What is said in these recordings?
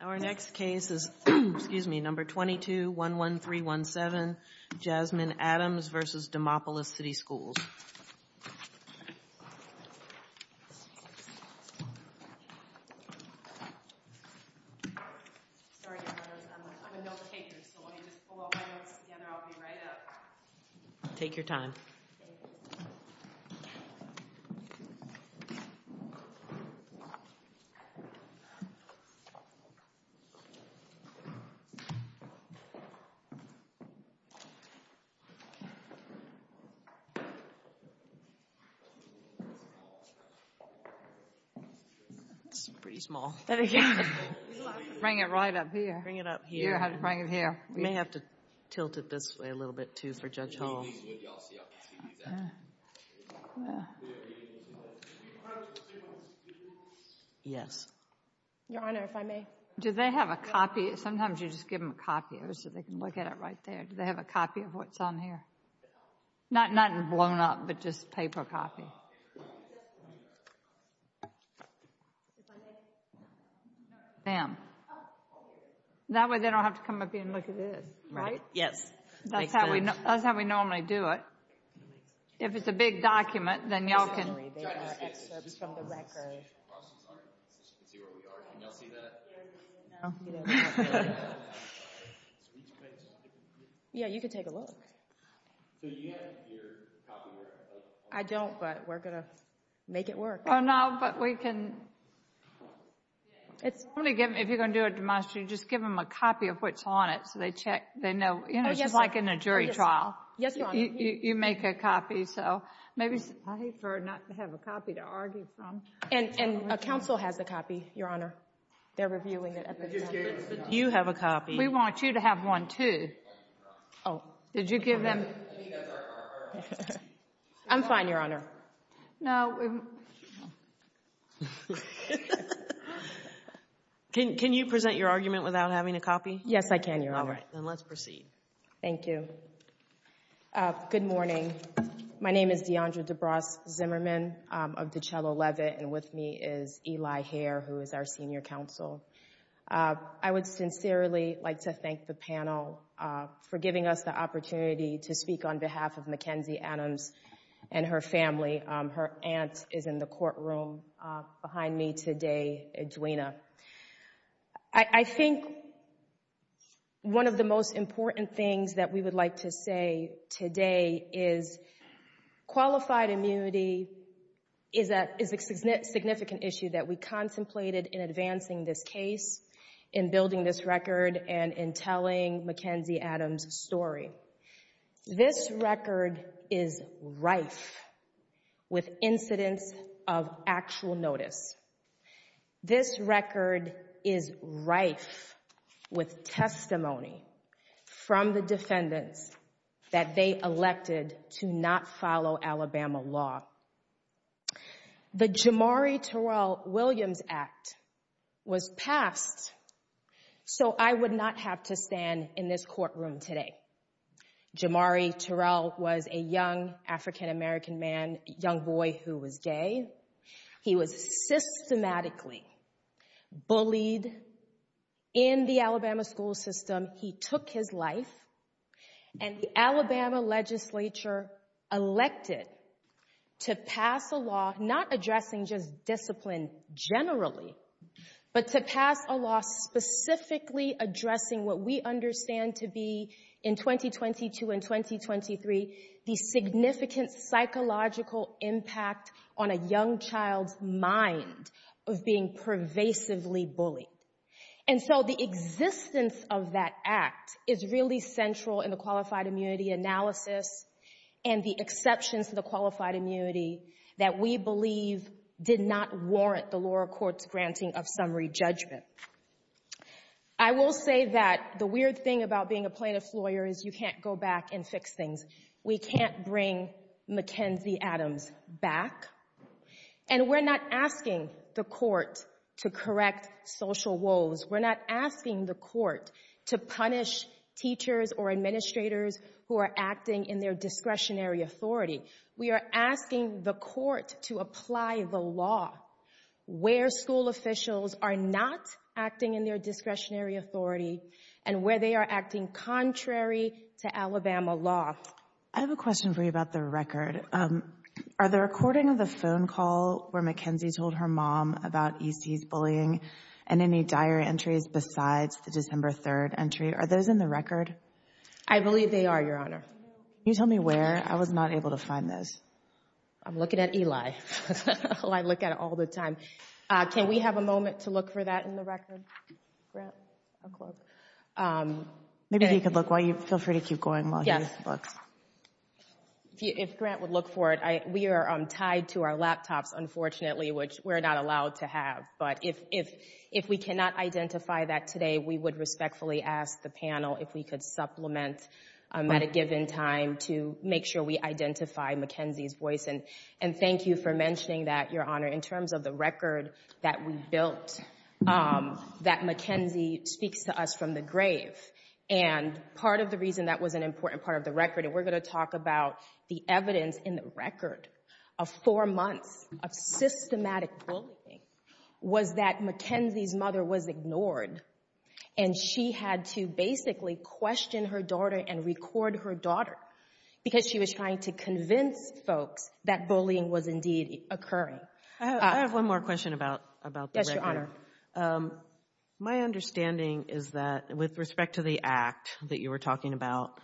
Our next case is number 2211317, Jasmine Adams v. Demopolis City Schools. Sorry, I'm a note taker, so when you just pull all my notes together, I'll be right up. Take your time. It's pretty small. Bring it right up here. Bring it up here. You may have to tilt it this way a little bit too for Judge Hall. Yes. Your Honor, if I may. Do they have a copy? Sometimes you just give them a copy so they can look at it right there. Do they have a copy of what's on here? Not blown up, but just paper copy. That way they don't have to come up here and look at this. Right? Yes. That's how we normally do it. If it's a big document, then y'all can. They got excerpts from the record. Yeah, you can take a look. I don't, but we're going to make it work. Oh, no, but we can. If you're going to do a demonstration, just give them a copy of what's on it so they know. It's just like in a jury trial. Yes, Your Honor. You make a copy. I hate for her not to have a copy to argue from. And a counsel has a copy, Your Honor. They're reviewing it. You have a copy. We want you to have one too. Oh, did you give them? I'm fine, Your Honor. No. Can you present your argument without having a copy? Yes, I can, Your Honor. All right. Then let's proceed. Thank you. Good morning. My name is DeAndra DeBras Zimmerman of DiCello Levitt, and with me is Eli Hare, who is our senior counsel. I would sincerely like to thank the panel for giving us the opportunity to speak on behalf of Mackenzie Adams and her family. Her aunt is in the courtroom behind me today, Edwina. I think one of the most important things that we would like to say today is qualified immunity is a significant issue that we contemplated in advancing this case, in building this record, and in telling Mackenzie Adams' story. This record is rife with incidents of actual notice. This record is rife with testimony from the defendants that they elected to not follow Alabama law. The Jamari Terrell Williams Act was passed so I would not have to stand in this courtroom today. Jamari Terrell was a young African-American man, young boy who was gay. He was systematically bullied in the Alabama school system. He took his life, and the Alabama legislature elected to pass a law not addressing just discipline generally, but to pass a law specifically addressing what we understand to be, in 2022 and 2023, the significant psychological impact on a young child's mind of being pervasively bullied. And so the existence of that act is really central in the qualified immunity analysis and the exceptions to the qualified immunity that we believe did not warrant the lower court's granting of summary judgment. I will say that the weird thing about being a plaintiff's lawyer is you can't go back and fix things. We can't bring Mackenzie Adams back, and we're not asking the court to correct social woes. We're not asking the court to punish teachers or administrators who are acting in their discretionary authority. We are asking the court to apply the law where school officials are not acting in their discretionary authority and where they are acting contrary to Alabama law. I have a question for you about the record. Are the recording of the phone call where Mackenzie told her mom about E.C.'s bullying and any dire entries besides the December 3rd entry, are those in the record? I believe they are, Your Honor. Can you tell me where? I was not able to find those. I'm looking at Eli. I look at it all the time. Can we have a moment to look for that in the record? Maybe he could look while you feel free to keep going while he looks. If Grant would look for it, we are tied to our laptops, unfortunately, which we're not allowed to have. But if we cannot identify that today, we would respectfully ask the panel if we could supplement at a given time to make sure we identify Mackenzie's voice. And thank you for mentioning that, Your Honor. In terms of the record that we built, that Mackenzie speaks to us from the grave. And part of the reason that was an important part of the record, and we're going to talk about the evidence in the record of four months of systematic bullying, was that Mackenzie's mother was ignored. And she had to basically question her daughter and record her daughter because she was trying to convince folks that bullying was indeed occurring. Yes, Your Honor. My understanding is that with respect to the act that you were talking about,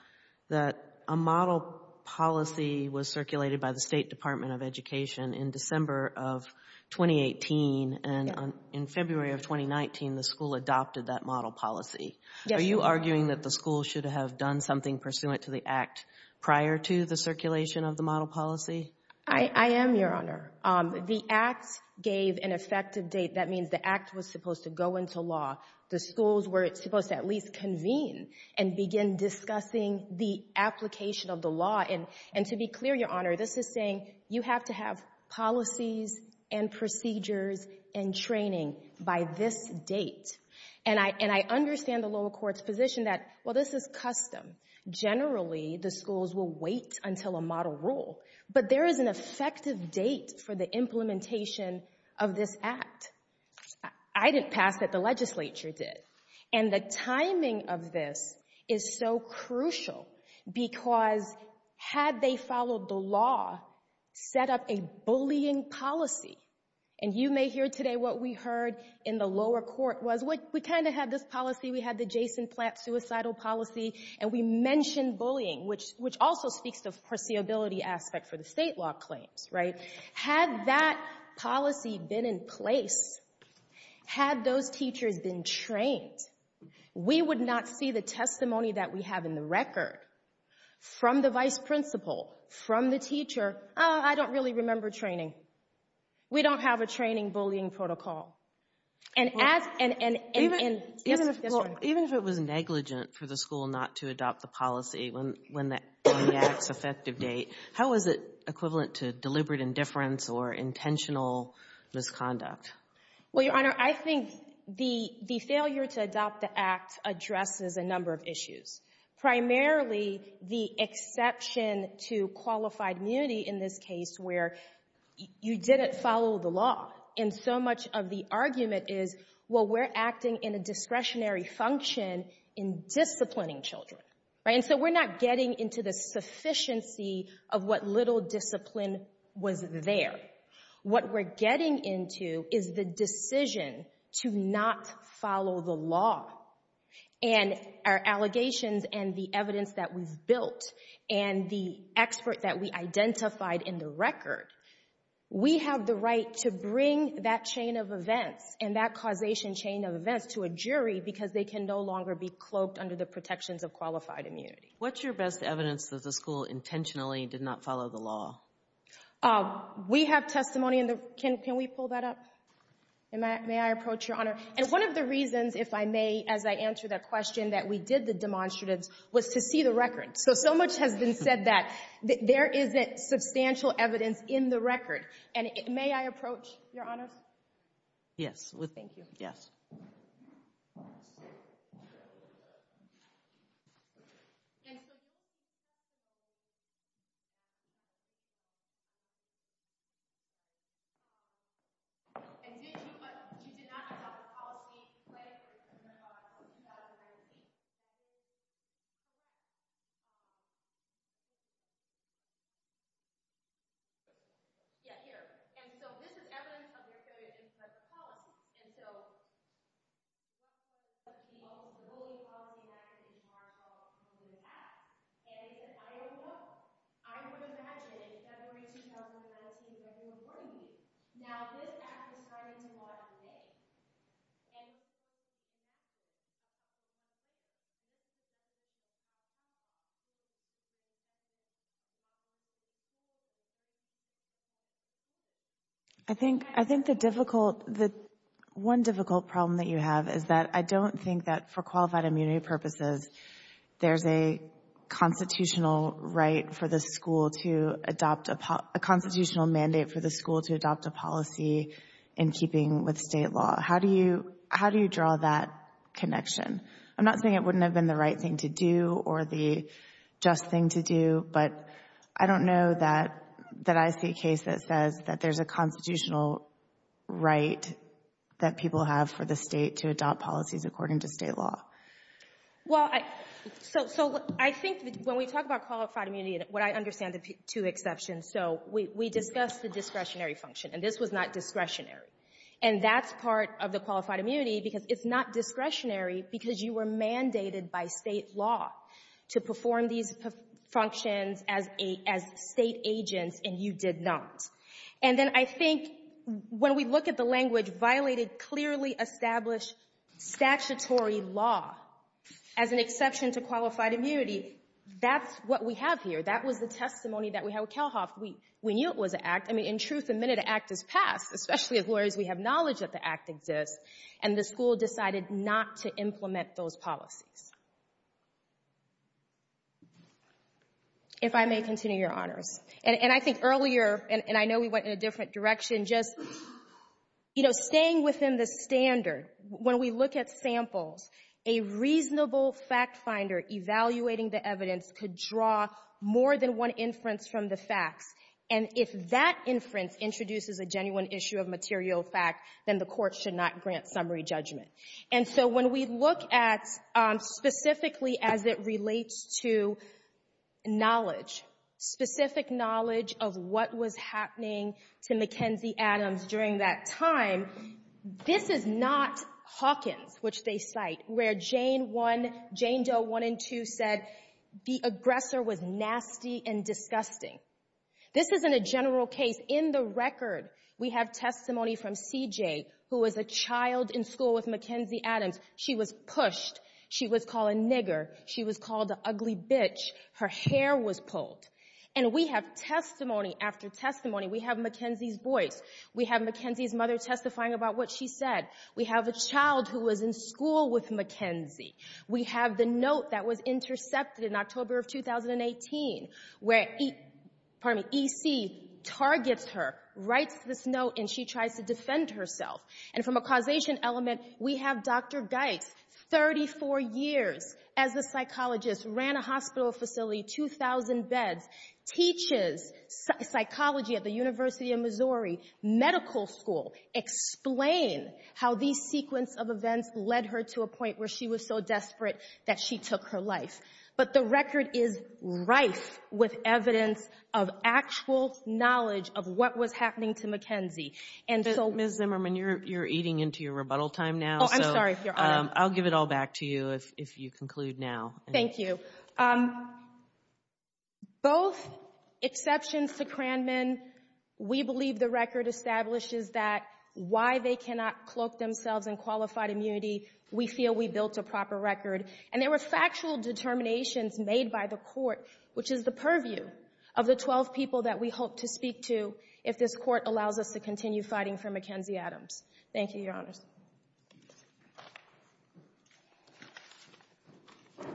that a model policy was circulated by the State Department of Education in December of 2018, and in February of 2019 the school adopted that model policy. Are you arguing that the school should have done something pursuant to the act prior to the circulation of the model policy? I am, Your Honor. The act gave an effective date. That means the act was supposed to go into law. The schools were supposed to at least convene and begin discussing the application of the law. And to be clear, Your Honor, this is saying you have to have policies and procedures and training by this date. And I understand the lower court's position that, well, this is custom. Generally, the schools will wait until a model rule. But there is an effective date for the implementation of this act. I didn't pass it, the legislature did. And the timing of this is so crucial because had they followed the law, set up a bullying policy, and you may hear today what we heard in the lower court was, we kind of had this policy, we had the Jason Platt suicidal policy, and we mentioned bullying, which also speaks to the foreseeability aspect for the state law claims, right? Had that policy been in place, had those teachers been trained, we would not see the testimony that we have in the record from the vice principal, from the teacher, oh, I don't really remember training. We don't have a training bullying protocol. Even if it was negligent for the school not to adopt the policy when the act's effective date, how is it equivalent to deliberate indifference or intentional misconduct? Well, Your Honor, I think the failure to adopt the act addresses a number of issues, primarily the exception to qualified immunity in this case where you didn't follow the law and so much of the argument is, well, we're acting in a discretionary function in disciplining children, right? And so we're not getting into the sufficiency of what little discipline was there. What we're getting into is the decision to not follow the law and our allegations and the evidence that we've built and the expert that we identified in the record. We have the right to bring that chain of events and that causation chain of events to a jury because they can no longer be cloaked under the protections of qualified immunity. What's your best evidence that the school intentionally did not follow the law? We have testimony in the – can we pull that up? May I approach, Your Honor? And one of the reasons, if I may, as I answer that question, that we did the demonstratives, was to see the record. So, so much has been said that there isn't substantial evidence in the record. And may I approach, Your Honors? Thank you. Yes. Let's see. And so – And did you – you did not have a policy flagged in the law in 2019? Yeah, here. And so this is evidence of your failure to implement the policy. And so – One difficult problem that you have is that I don't think that for qualified immunity purposes there's a constitutional right for the school to adopt a – a constitutional mandate for the school to adopt a policy in keeping with state law. How do you – how do you draw that connection? I'm not saying it wouldn't have been the right thing to do or the just thing to do, but I don't know that – that I see a case that says that there's a constitutional right that people have for the state to adopt policies according to state law. Well, I – so, I think when we talk about qualified immunity, what I understand are the two exceptions. So, we discussed the discretionary function, and this was not discretionary. And that's part of the qualified immunity, because it's not discretionary because you were mandated by state law to perform these functions as state agents and you did not. And then I think when we look at the language, violated clearly established statutory law as an exception to qualified immunity, that's what we have here. That was the testimony that we had with Kelhoff. We knew it was an act. I mean, in truth, the minute an act is passed, especially as lawyers we have knowledge that the act exists, and the school decided not to implement those policies. If I may continue, Your Honors. And I think earlier, and I know we went in a different direction, just, you know, staying within the standard, when we look at samples, a reasonable fact finder evaluating the evidence could draw more than one inference from the facts. And if that inference introduces a genuine issue of material fact, then the court should not grant summary judgment. And so when we look at specifically as it relates to knowledge, specific knowledge of what was happening to Mackenzie Adams during that time, this is not Hawkins, which they cite, where Jane 1 — Jane Doe 1 and 2 said, the aggressor was nasty and disgusting. This isn't a general case. In the record, we have testimony from CJ, who was a child in school with Mackenzie Adams. She was pushed. She was called a nigger. She was called an ugly bitch. Her hair was pulled. And we have testimony after testimony. We have Mackenzie's voice. We have Mackenzie's mother testifying about what she said. We have a child who was in school with Mackenzie. We have the note that was intercepted in October of 2018, where — pardon me — EC targets her, writes this note, and she tries to defend herself. And from a causation element, we have Dr. Geitz, 34 years as a psychologist, ran a hospital facility, 2,000 beds, teaches psychology at the University of Missouri Medical School, explain how these sequence of events led her to a point where she was so desperate that she took her life. But the record is rife with evidence of actual knowledge of what was happening to Mackenzie. And so — Ms. Zimmerman, you're eating into your rebuttal time now, so — Oh, I'm sorry, Your Honor. I'll give it all back to you if you conclude now. Thank you. Both exceptions to Cranman, we believe the record establishes that why they cannot cloak themselves in qualified immunity, we feel we built a proper record. And there were factual determinations made by the Court, which is the purview of the 12 people that we hope to speak to if this Court allows us to continue fighting for Mackenzie Adams. Thank you, Your Honors. Please be seated.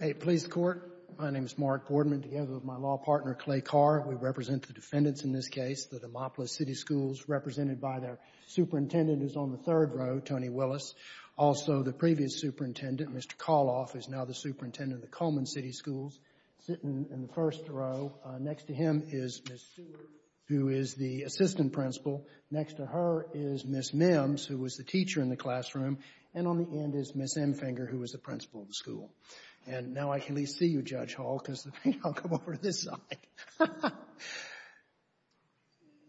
Hey, police court. My name is Mark Boardman, together with my law partner, Clay Carr. We represent the defendants in this case, the Demopolis City Schools, represented by their superintendent, who's on the third row, Tony Willis. Also, the previous superintendent, Mr. Koloff, is now the superintendent of the Coleman City Schools, sitting in the first row. Next to him is Ms. Stewart, who is the assistant principal. Next to her is Ms. Mims, who was the teacher in the classroom. And on the end is Ms. Emfinger, who was the principal of the school. And now I can at least see you, Judge Hall, because I'll come over to this side.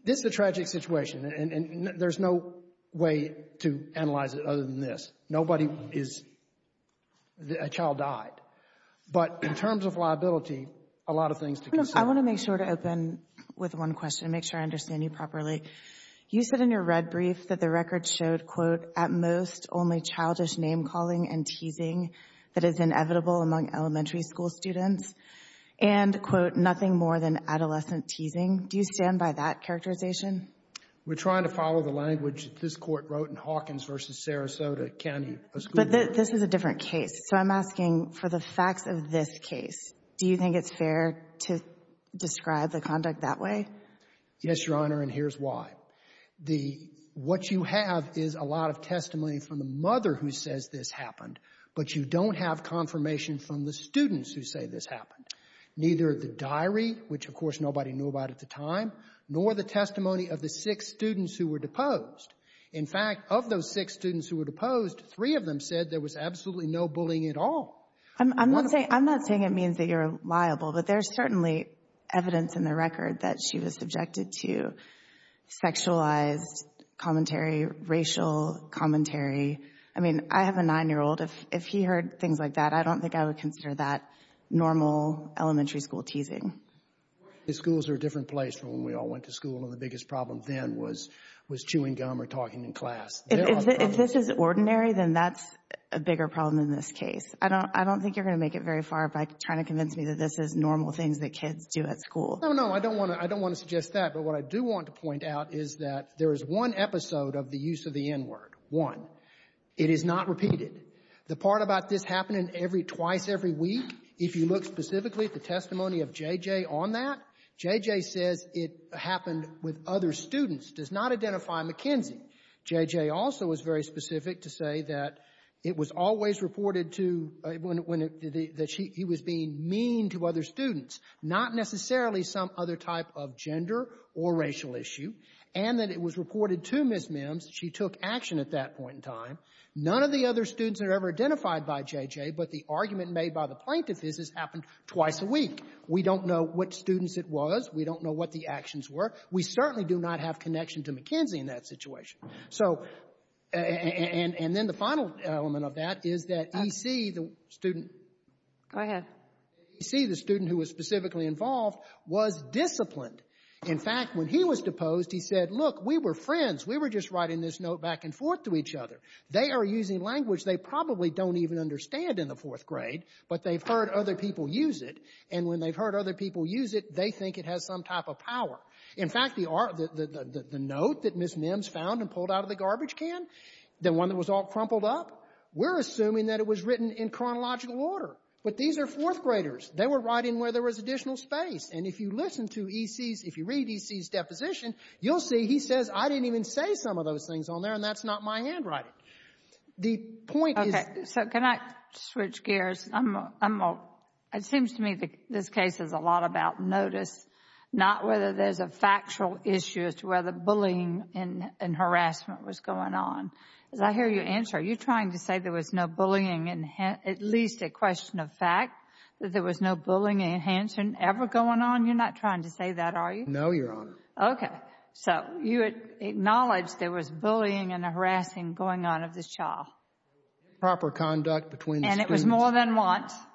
This is a tragic situation, and there's no way to analyze it other than this. Nobody is — a child died. But in terms of liability, a lot of things to consider. I want to make sure to open with one question, make sure I understand you properly. You said in your red brief that the record showed, quote, at most only childish name-calling and teasing that is inevitable among elementary school students, and, quote, nothing more than adolescent teasing. Do you stand by that characterization? We're trying to follow the language that this Court wrote in Hawkins v. Sarasota County. But this is a different case. So I'm asking for the facts of this case. Do you think it's fair to describe the conduct that way? Yes, Your Honor, and here's why. The — what you have is a lot of testimony from the mother who says this happened, but you don't have confirmation from the students who say this happened, neither the diary, which, of course, nobody knew about at the time, nor the testimony of the six students who were deposed. In fact, of those six students who were deposed, three of them said there was absolutely no bullying at all. I'm not saying it means that you're liable, but there's certainly evidence in the record that she was subjected to sexualized commentary, racial commentary. I mean, I have a 9-year-old. If he heard things like that, I don't think I would consider that normal elementary school teasing. Schools are a different place from when we all went to school, and the biggest problem then was chewing gum or talking in class. If this is ordinary, then that's a bigger problem in this case. I don't think you're going to make it very far by trying to convince me that this is normal things that kids do at school. No, no, I don't want to suggest that. But what I do want to point out is that there is one episode of the use of the N-word, one. It is not repeated. The part about this happening every — twice every week, if you look specifically at the testimony of J.J. on that, J.J. says it happened with other students, does not identify McKenzie. J.J. also was very specific to say that it was always reported to — that he was being mean to other students, not necessarily some other type of gender or racial issue, and that it was reported to Ms. Mims. She took action at that point in time. None of the other students are ever identified by J.J., but the argument made by the plaintiff is this happened twice a week. We don't know what students it was. We don't know what the actions were. We certainly do not have connection to McKenzie in that situation. So — and then the final element of that is that E.C., the student — Go ahead. E.C., the student who was specifically involved, was disciplined. In fact, when he was deposed, he said, look, we were friends. We were just writing this note back and forth to each other. They are using language they probably don't even understand in the fourth grade, but they've heard other people use it. And when they've heard other people use it, they think it has some type of power. In fact, the — the note that Ms. Mims found and pulled out of the garbage can, the one that was all crumpled up, we're assuming that it was written in chronological order. But these are fourth graders. They were writing where there was additional space. And if you listen to E.C.'s — if you read E.C.'s deposition, you'll see he says, I didn't even say some of those things on there, and that's not my handwriting. The point is — Okay. So can I switch gears? I'm — it seems to me that this case is a lot about notice, not whether there's a factual issue as to whether bullying and harassment was going on. As I hear your answer, are you trying to say there was no bullying — at least at question of fact — that there was no bullying and harassment ever going on? You're not trying to say that, are you? No, Your Honor. Okay. So you acknowledge there was bullying and harassing going on of this child? Proper conduct between the students. And it was more than once? Well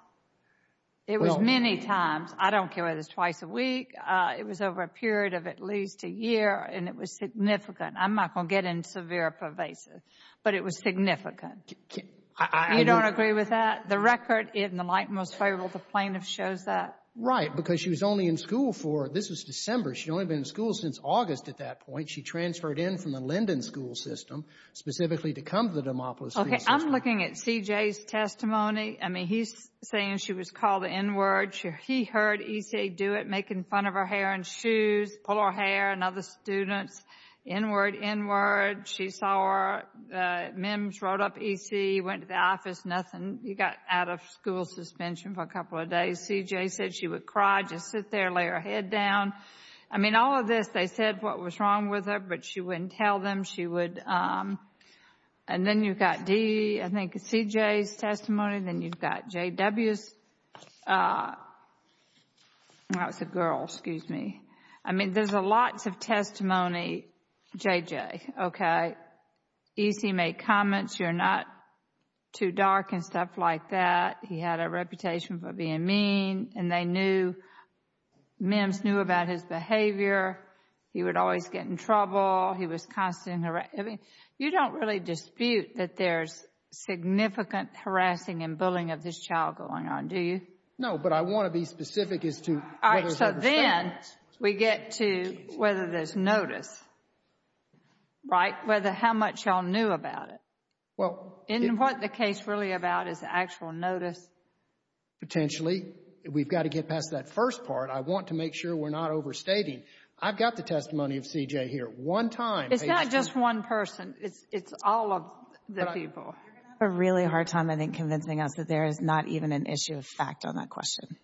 — It was many times. I don't care whether it was twice a week. It was over a period of at least a year, and it was significant. I'm not going to get into severe pervasive, but it was significant. I — You don't agree with that? The record in the Lighten was favorable. The plaintiff shows that. Right, because she was only in school for — this was December. She'd only been in school since August at that point. She transferred in from the Linden school system specifically to come to the Demopolis — Okay. I'm looking at C.J.'s testimony. I mean, he's saying she was called inward. He heard E.C. do it, make fun of her hair and shoes, pull her hair, and other students. Inward, inward. She saw her. Mims wrote up E.C., went to the office, nothing. He got out of school suspension for a couple of days. C.J. said she would cry. Just sit there, lay her head down. I mean, all of this. They said what was wrong with her, but she wouldn't tell them. She would — and then you've got D, I think, C.J.'s testimony. Then you've got J.W.'s. That was a girl, excuse me. I mean, there's lots of testimony, J.J., okay? E.C. made comments, you're not too dark and stuff like that. He had a reputation for being mean, and they knew — Mims knew about his behavior. He would always get in trouble. He was constantly harassed. I mean, you don't really dispute that there's significant harassing and bullying of this child going on, do you? No, but I want to be specific as to whether — But then we get to whether there's notice, right? Whether how much y'all knew about it. And what the case is really about is actual notice. Potentially. We've got to get past that first part. I want to make sure we're not overstating. I've got the testimony of C.J. here. One time. It's not just one person. It's all of the people. You're going to have a really hard time, I think, convincing us that there is not even an issue of fact on that question.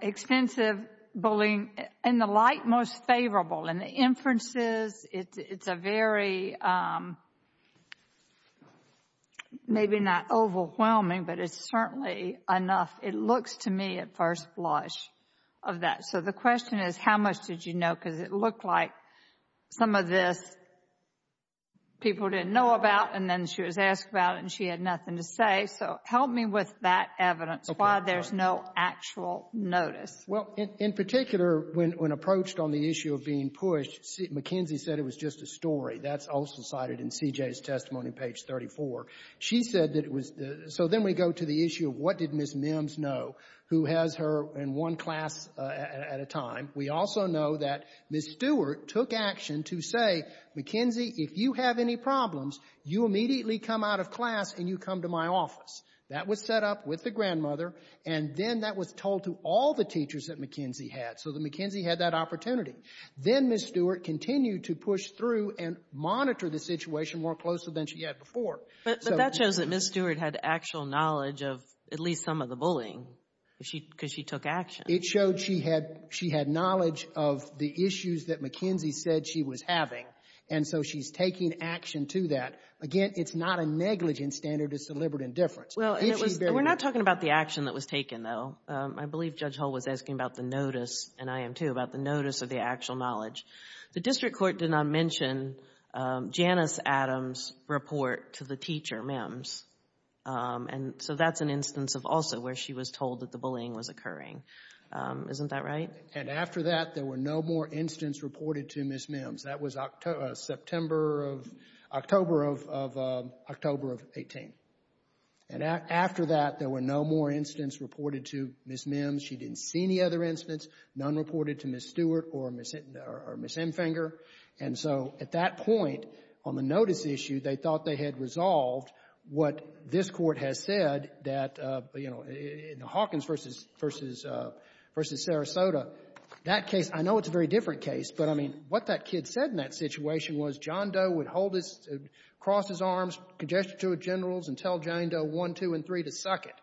Expensive bullying. In the light, most favorable. In the inferences, it's a very — maybe not overwhelming, but it's certainly enough. It looks to me, at first blush, of that. So the question is, how much did you know? Because it looked like some of this people didn't know about, and then she was asked about it, and she had nothing to say. So help me with that evidence, why there's no actual notice. Well, in particular, when approached on the issue of being pushed, McKenzie said it was just a story. That's also cited in C.J.'s testimony, page 34. She said that it was — so then we go to the issue of what did Ms. Mims know, who has her in one class at a time. We also know that Ms. Stewart took action to say, McKenzie, if you have any problems, you immediately come out of class and you come to my office. That was set up with the grandmother, and then that was told to all the teachers that McKenzie had. So McKenzie had that opportunity. Then Ms. Stewart continued to push through and monitor the situation more closely than she had before. But that shows that Ms. Stewart had actual knowledge of at least some of the bullying, because she took action. It showed she had knowledge of the issues that McKenzie said she was having, and so she's taking action to that. Again, it's not a negligent standard of deliberate indifference. Well, we're not talking about the action that was taken, though. I believe Judge Hull was asking about the notice, and I am too, about the notice of the actual knowledge. The district court did not mention Janice Adams' report to the teacher, Mims. And so that's an instance of also where she was told that the bullying was occurring. Isn't that right? And after that, there were no more incidents reported to Ms. Mims. That was October of 18. And after that, there were no more incidents reported to Ms. Mims. She didn't see any other incidents, none reported to Ms. Stewart or Ms. Hemfinger. And so at that point, on the notice issue, they thought they had resolved what this Court has said that, you know, in the Hawkins v. Sarasota, that case, I know it's a very different case, but, I mean, what that kid said in that situation was John Doe would hold his — cross his arms, congested to a general's, and tell John Doe one, two, and three to suck it.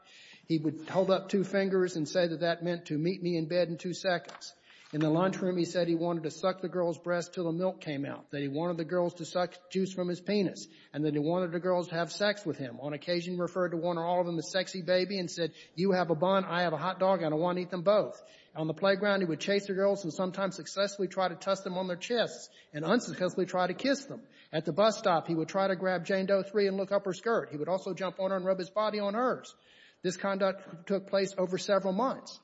He would hold up two fingers and say that that meant to meet me in bed in two seconds. In the lunchroom, he said he wanted to suck the girl's breast until the milk came out, that he wanted the girls to suck juice from his penis, and that he wanted the girls to have sex with him. On occasion, he referred to one or all of them as sexy baby and said, you have a bond, I have a hot dog, and I want to eat them both. On the playground, he would chase the girls and sometimes successfully try to toss them on their chests and unsuccessfully try to kiss them. At the bus stop, he would try to grab Jane Doe three and look up her skirt. He would also jump on her and rub his body on hers. This conduct took place over several months.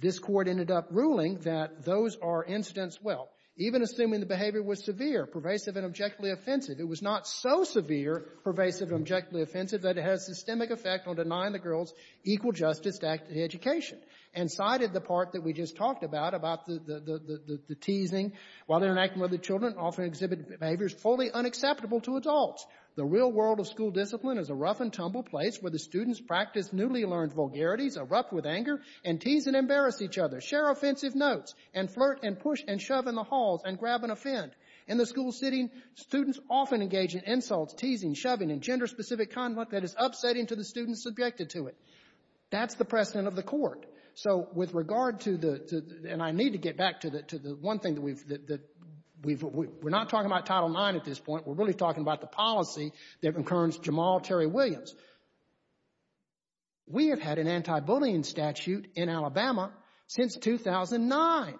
This Court ended up ruling that those are incidents well, even assuming the behavior was severe, pervasive, and objectively offensive. It was not so severe, pervasive, and objectively offensive that it has systemic effect on denying the girls equal justice to active education. And cited the part that we just talked about, about the — the teasing, while interacting with other children often exhibit behaviors fully unacceptable to adults. The real world of school discipline is a rough-and-tumble place where the students practice newly learned vulgarities, erupt with anger, and tease and embarrass each other, share offensive notes, and flirt and push and shove in the halls and grab and offend. In the school sitting, students often engage in insults, teasing, shoving, and gender-specific conduct that is upsetting to the students subjected to it. That's the precedent of the Court. So with regard to the — and I need to get back to the one thing that we've — we're not talking about Title IX at this point. We're really talking about the policy that concerns Jamal Terry Williams. We have had an anti-bullying statute in Alabama since 2009.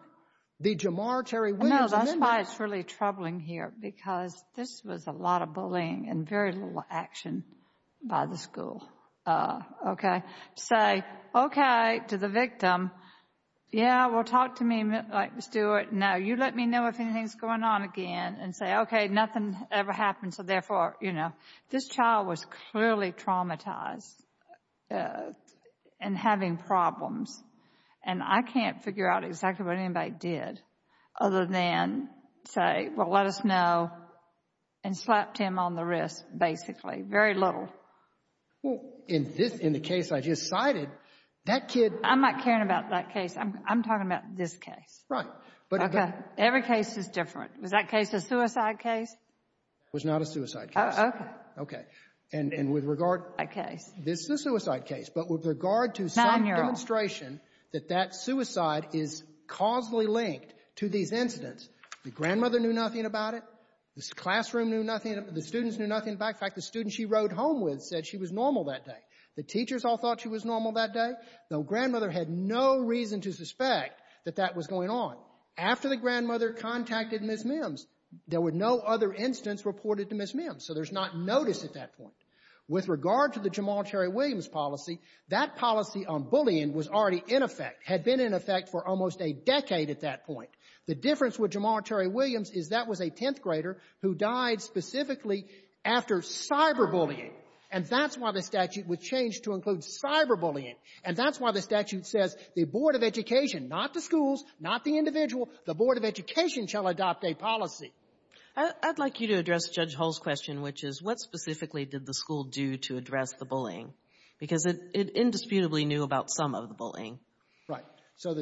The Jamal Terry Williams amendment — No, that's why it's really troubling here, because this was a lot of bullying and very little action by the school, okay? Say, okay, to the victim, yeah, well, talk to me, Stuart. Now, you let me know if anything's going on again and say, okay, nothing ever happened. So, therefore, you know, this child was clearly traumatized and having problems, and I can't figure out exactly what anybody did other than say, well, let us know, and slapped him on the wrist, basically. Very little. Well, in this — in the case I just cited, that kid — I'm not caring about that case. I'm talking about this case. Right, but — Okay, every case is different. Was that case a suicide case? It was not a suicide case. Oh, okay. Okay. And with regard — A case. This is a suicide case. But with regard to some demonstration — Nine-year-old. — that that suicide is causally linked to these incidents, the grandmother knew nothing about it. The classroom knew nothing about it. The students knew nothing about it. In fact, the student she rode home with said she was normal that day. The teachers all thought she was normal that day. The grandmother had no reason to suspect that that was going on. After the grandmother contacted Ms. Mims, there were no other incidents reported to Ms. Mims. So there's not notice at that point. With regard to the Jamal Terry Williams policy, that policy on bullying was already in effect, had been in effect for almost a decade at that point. The difference with Jamal Terry Williams is that was a 10th grader who died specifically after cyberbullying. And that's why the statute was changed to include cyberbullying. And that's why the statute says the Board of Education, not the schools, not the individual, the Board of Education shall adopt a policy. I'd like you to address Judge Hull's question, which is what specifically did the school do to address the bullying? Because it indisputably knew about some of the bullying. Right. So the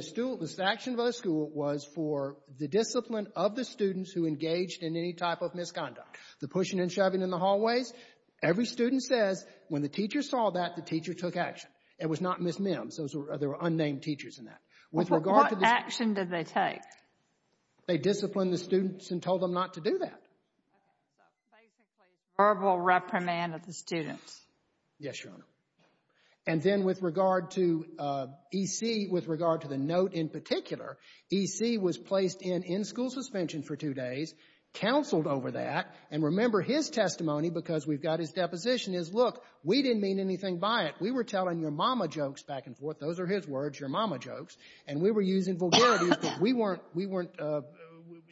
action of the school was for the discipline of the students who engaged in any type of misconduct. The pushing and shoving in the hallways, every student says when the teacher saw that, the teacher took action. It was not Ms. Mims. There were unnamed teachers in that. What action did they take? They disciplined the students and told them not to do that. So basically verbal reprimand of the students. Yes, Your Honor. And then with regard to EC, with regard to the note in particular, EC was placed in in-school suspension for two days, counseled over that. And remember his testimony, because we've got his deposition, is, look, we didn't mean anything by it. We were telling your mama jokes back and forth. Those are his words, your mama jokes. And we were using vulgarities because we weren't, we weren't,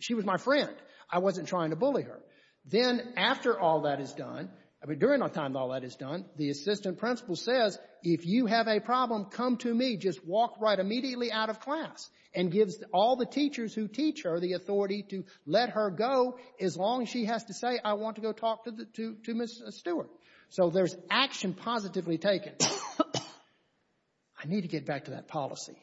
she was my friend. I wasn't trying to bully her. Then after all that is done, during the time all that is done, the assistant principal says, if you have a problem, come to me, just walk right immediately out of class, and gives all the teachers who teach her the authority to let her go as long as she has to say, I want to go talk to Ms. Stewart. So there's action positively taken. I need to get back to that policy.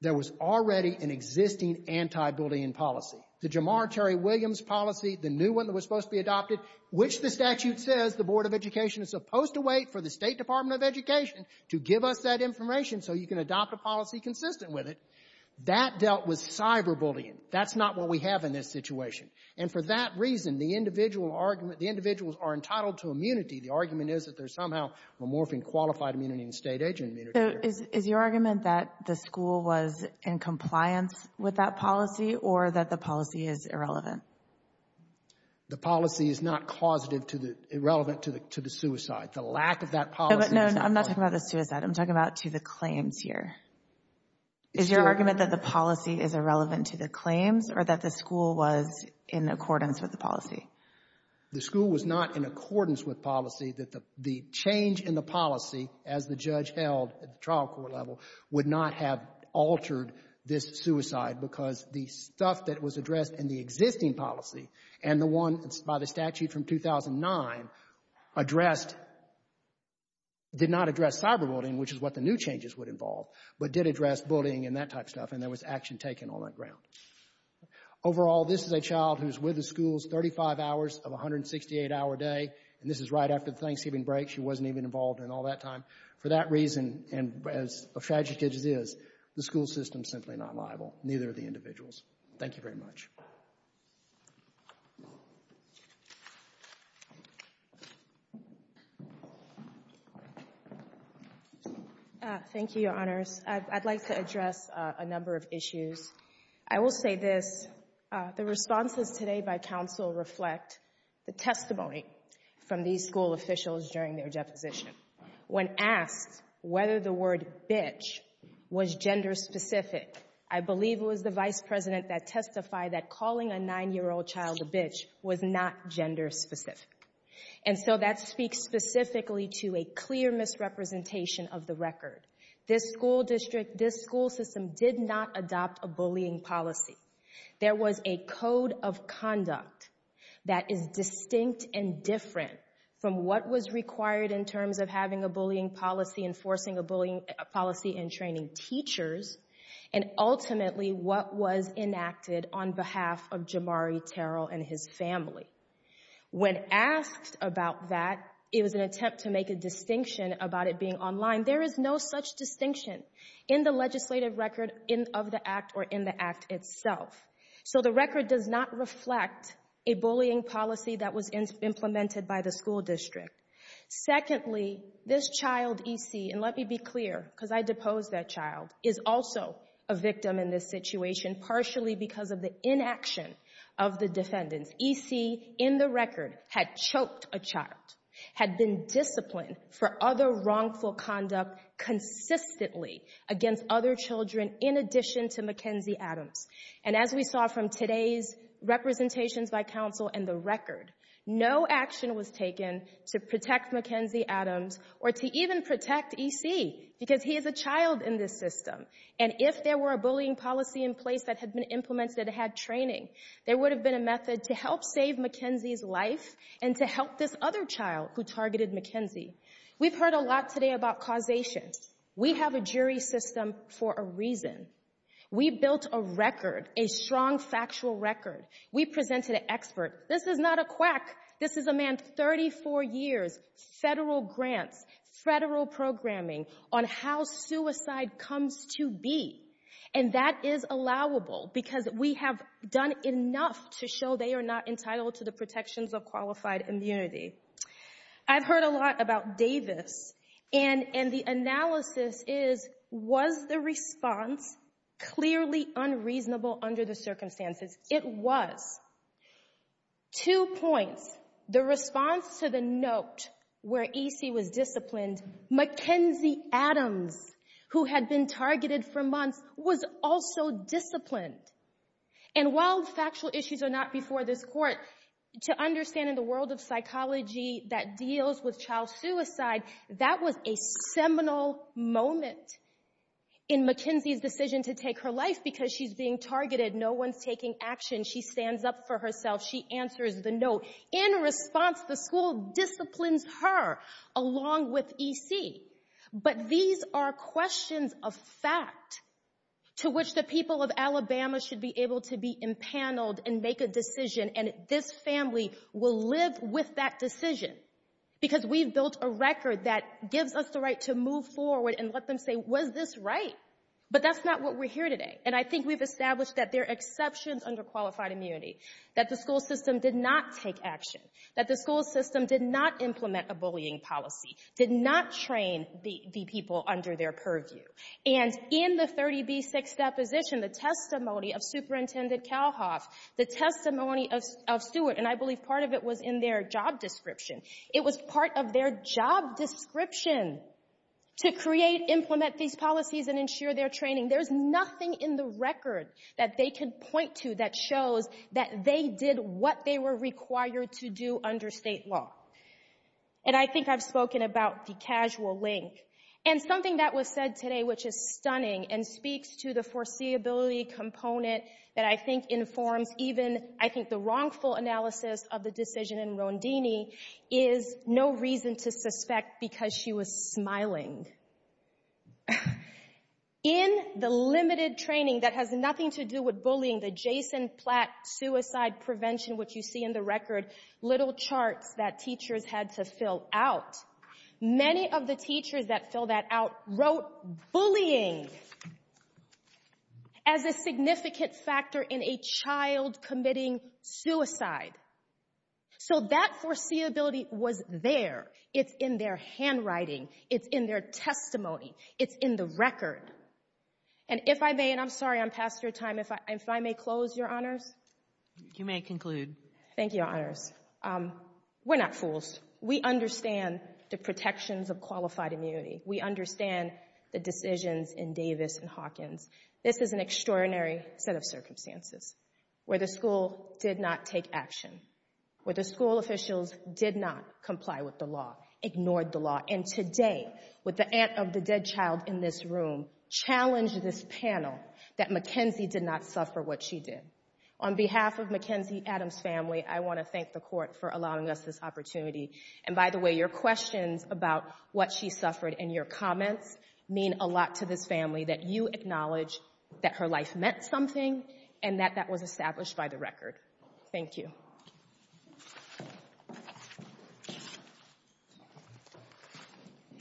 There was already an existing anti-bullying policy. The Jamar Terry Williams policy, the new one that was supposed to be adopted, which the statute says the Board of Education is supposed to wait for the State Department of Education to give us that information so you can adopt a policy consistent with it. That dealt with cyberbullying. That's not what we have in this situation. And for that reason, the individual argument, the individuals are entitled to immunity. The argument is that there's somehow a morphing qualified immunity and state agent immunity. So is your argument that the school was in compliance with that policy or that the policy is irrelevant? The policy is not causative to the, irrelevant to the suicide. The lack of that policy. No, but no, I'm not talking about the suicide. I'm talking about to the claims here. Is your argument that the policy is irrelevant to the claims or that the school was in accordance with the policy? The school was not in accordance with policy. The change in the policy, as the judge held at the trial court level, would not have altered this suicide because the stuff that was addressed in the existing policy and the one by the statute from 2009 addressed, did not address cyberbullying, which is what the new changes would involve, but did address bullying and that type of stuff, and there was action taken on that ground. Overall, this is a child who's with the schools 35 hours of a 168-hour day, and this is right after the Thanksgiving break. She wasn't even involved in all that time. For that reason, and as tragic as it is, the school system is simply not liable. Neither are the individuals. Thank you very much. Thank you. Thank you, Your Honors. I'd like to address a number of issues. I will say this. The responses today by counsel reflect the testimony from these school officials during their deposition. When asked whether the word bitch was gender specific, I believe it was the vice president that testified that calling a nine-year-old child a bitch was not gender specific. And so that speaks specifically to a clear misrepresentation of the record. This school district, this school system did not adopt a bullying policy. There was a code of conduct that is distinct and different from what was required in terms of having a bullying policy, enforcing a bullying policy in training teachers, and ultimately what was enacted on behalf of Jamari Terrell and his family. When asked about that, it was an attempt to make a distinction about it being online. There is no such distinction in the legislative record of the act or in the act itself. So the record does not reflect a bullying policy that was implemented by the school district. Secondly, this child, E.C., and let me be clear because I deposed that child, is also a victim in this situation partially because of the inaction of the defendants. E.C., in the record, had choked a child, had been disciplined for other wrongful conduct consistently against other children in addition to Mackenzie Adams. And as we saw from today's representations by counsel and the record, no action was taken to protect Mackenzie Adams or to even protect E.C. because he is a child in this system. And if there were a bullying policy in place that had been implemented and had training, there would have been a method to help save Mackenzie's life and to help this other child who targeted Mackenzie. We've heard a lot today about causation. We have a jury system for a reason. We built a record, a strong factual record. We presented an expert. This is not a quack. This is a man 34 years, federal grants, federal programming on how suicide comes to be. And that is allowable because we have done enough to show they are not entitled to the protections of qualified immunity. I've heard a lot about Davis. And the analysis is, was the response clearly unreasonable under the circumstances? It was. Two points. The response to the note where E.C. was disciplined, Mackenzie Adams, who had been targeted for months, was also disciplined. And while factual issues are not before this court, to understand in the world of psychology that deals with child suicide, that was a seminal moment in Mackenzie's decision to take her life because she's being targeted. No one's taking action. She stands up for herself. She answers the note. In response, the school disciplines her along with E.C. But these are questions of fact to which the people of Alabama should be able to be empaneled and make a decision. And this family will live with that decision because we've built a record that gives us the right to move forward and let them say, was this right? But that's not what we're here today. And I think we've established that there are exceptions under qualified immunity, that the school system did not take action, that the school system did not implement a bullying policy, did not train the people under their purview. And in the 30B6 deposition, the testimony of Superintendent Kalhoff, the testimony of Stewart, and I believe part of it was in their job description, it was part of their job description to create, implement these policies and ensure their training. There's nothing in the record that they can point to that shows that they did what they were required to do under state law. And I think I've spoken about the casual link. And something that was said today which is stunning and speaks to the foreseeability component that I think informs even, I think, the wrongful analysis of the decision in Rondini is no reason to suspect because she was smiling. In the limited training that has nothing to do with bullying, the Jason Platt suicide prevention, which you see in the record, little charts that teachers had to fill out, many of the teachers that fill that out wrote bullying as a significant factor in a child committing suicide. So that foreseeability was there. It's in their handwriting. It's in their testimony. It's in the record. And if I may, and I'm sorry I'm past your time, if I may close, Your Honors. You may conclude. Thank you, Your Honors. We're not fools. We understand the protections of qualified immunity. We understand the decisions in Davis and Hawkins. This is an extraordinary set of circumstances where the school did not take action, where the school officials did not comply with the law, ignored the law. And today, with the aunt of the dead child in this room, challenge this panel that Mackenzie did not suffer what she did. On behalf of Mackenzie Adams' family, I want to thank the court for allowing us this opportunity. And by the way, your questions about what she suffered and your comments mean a lot to this family that you acknowledge that her life meant something and that that was established by the record. Thank you.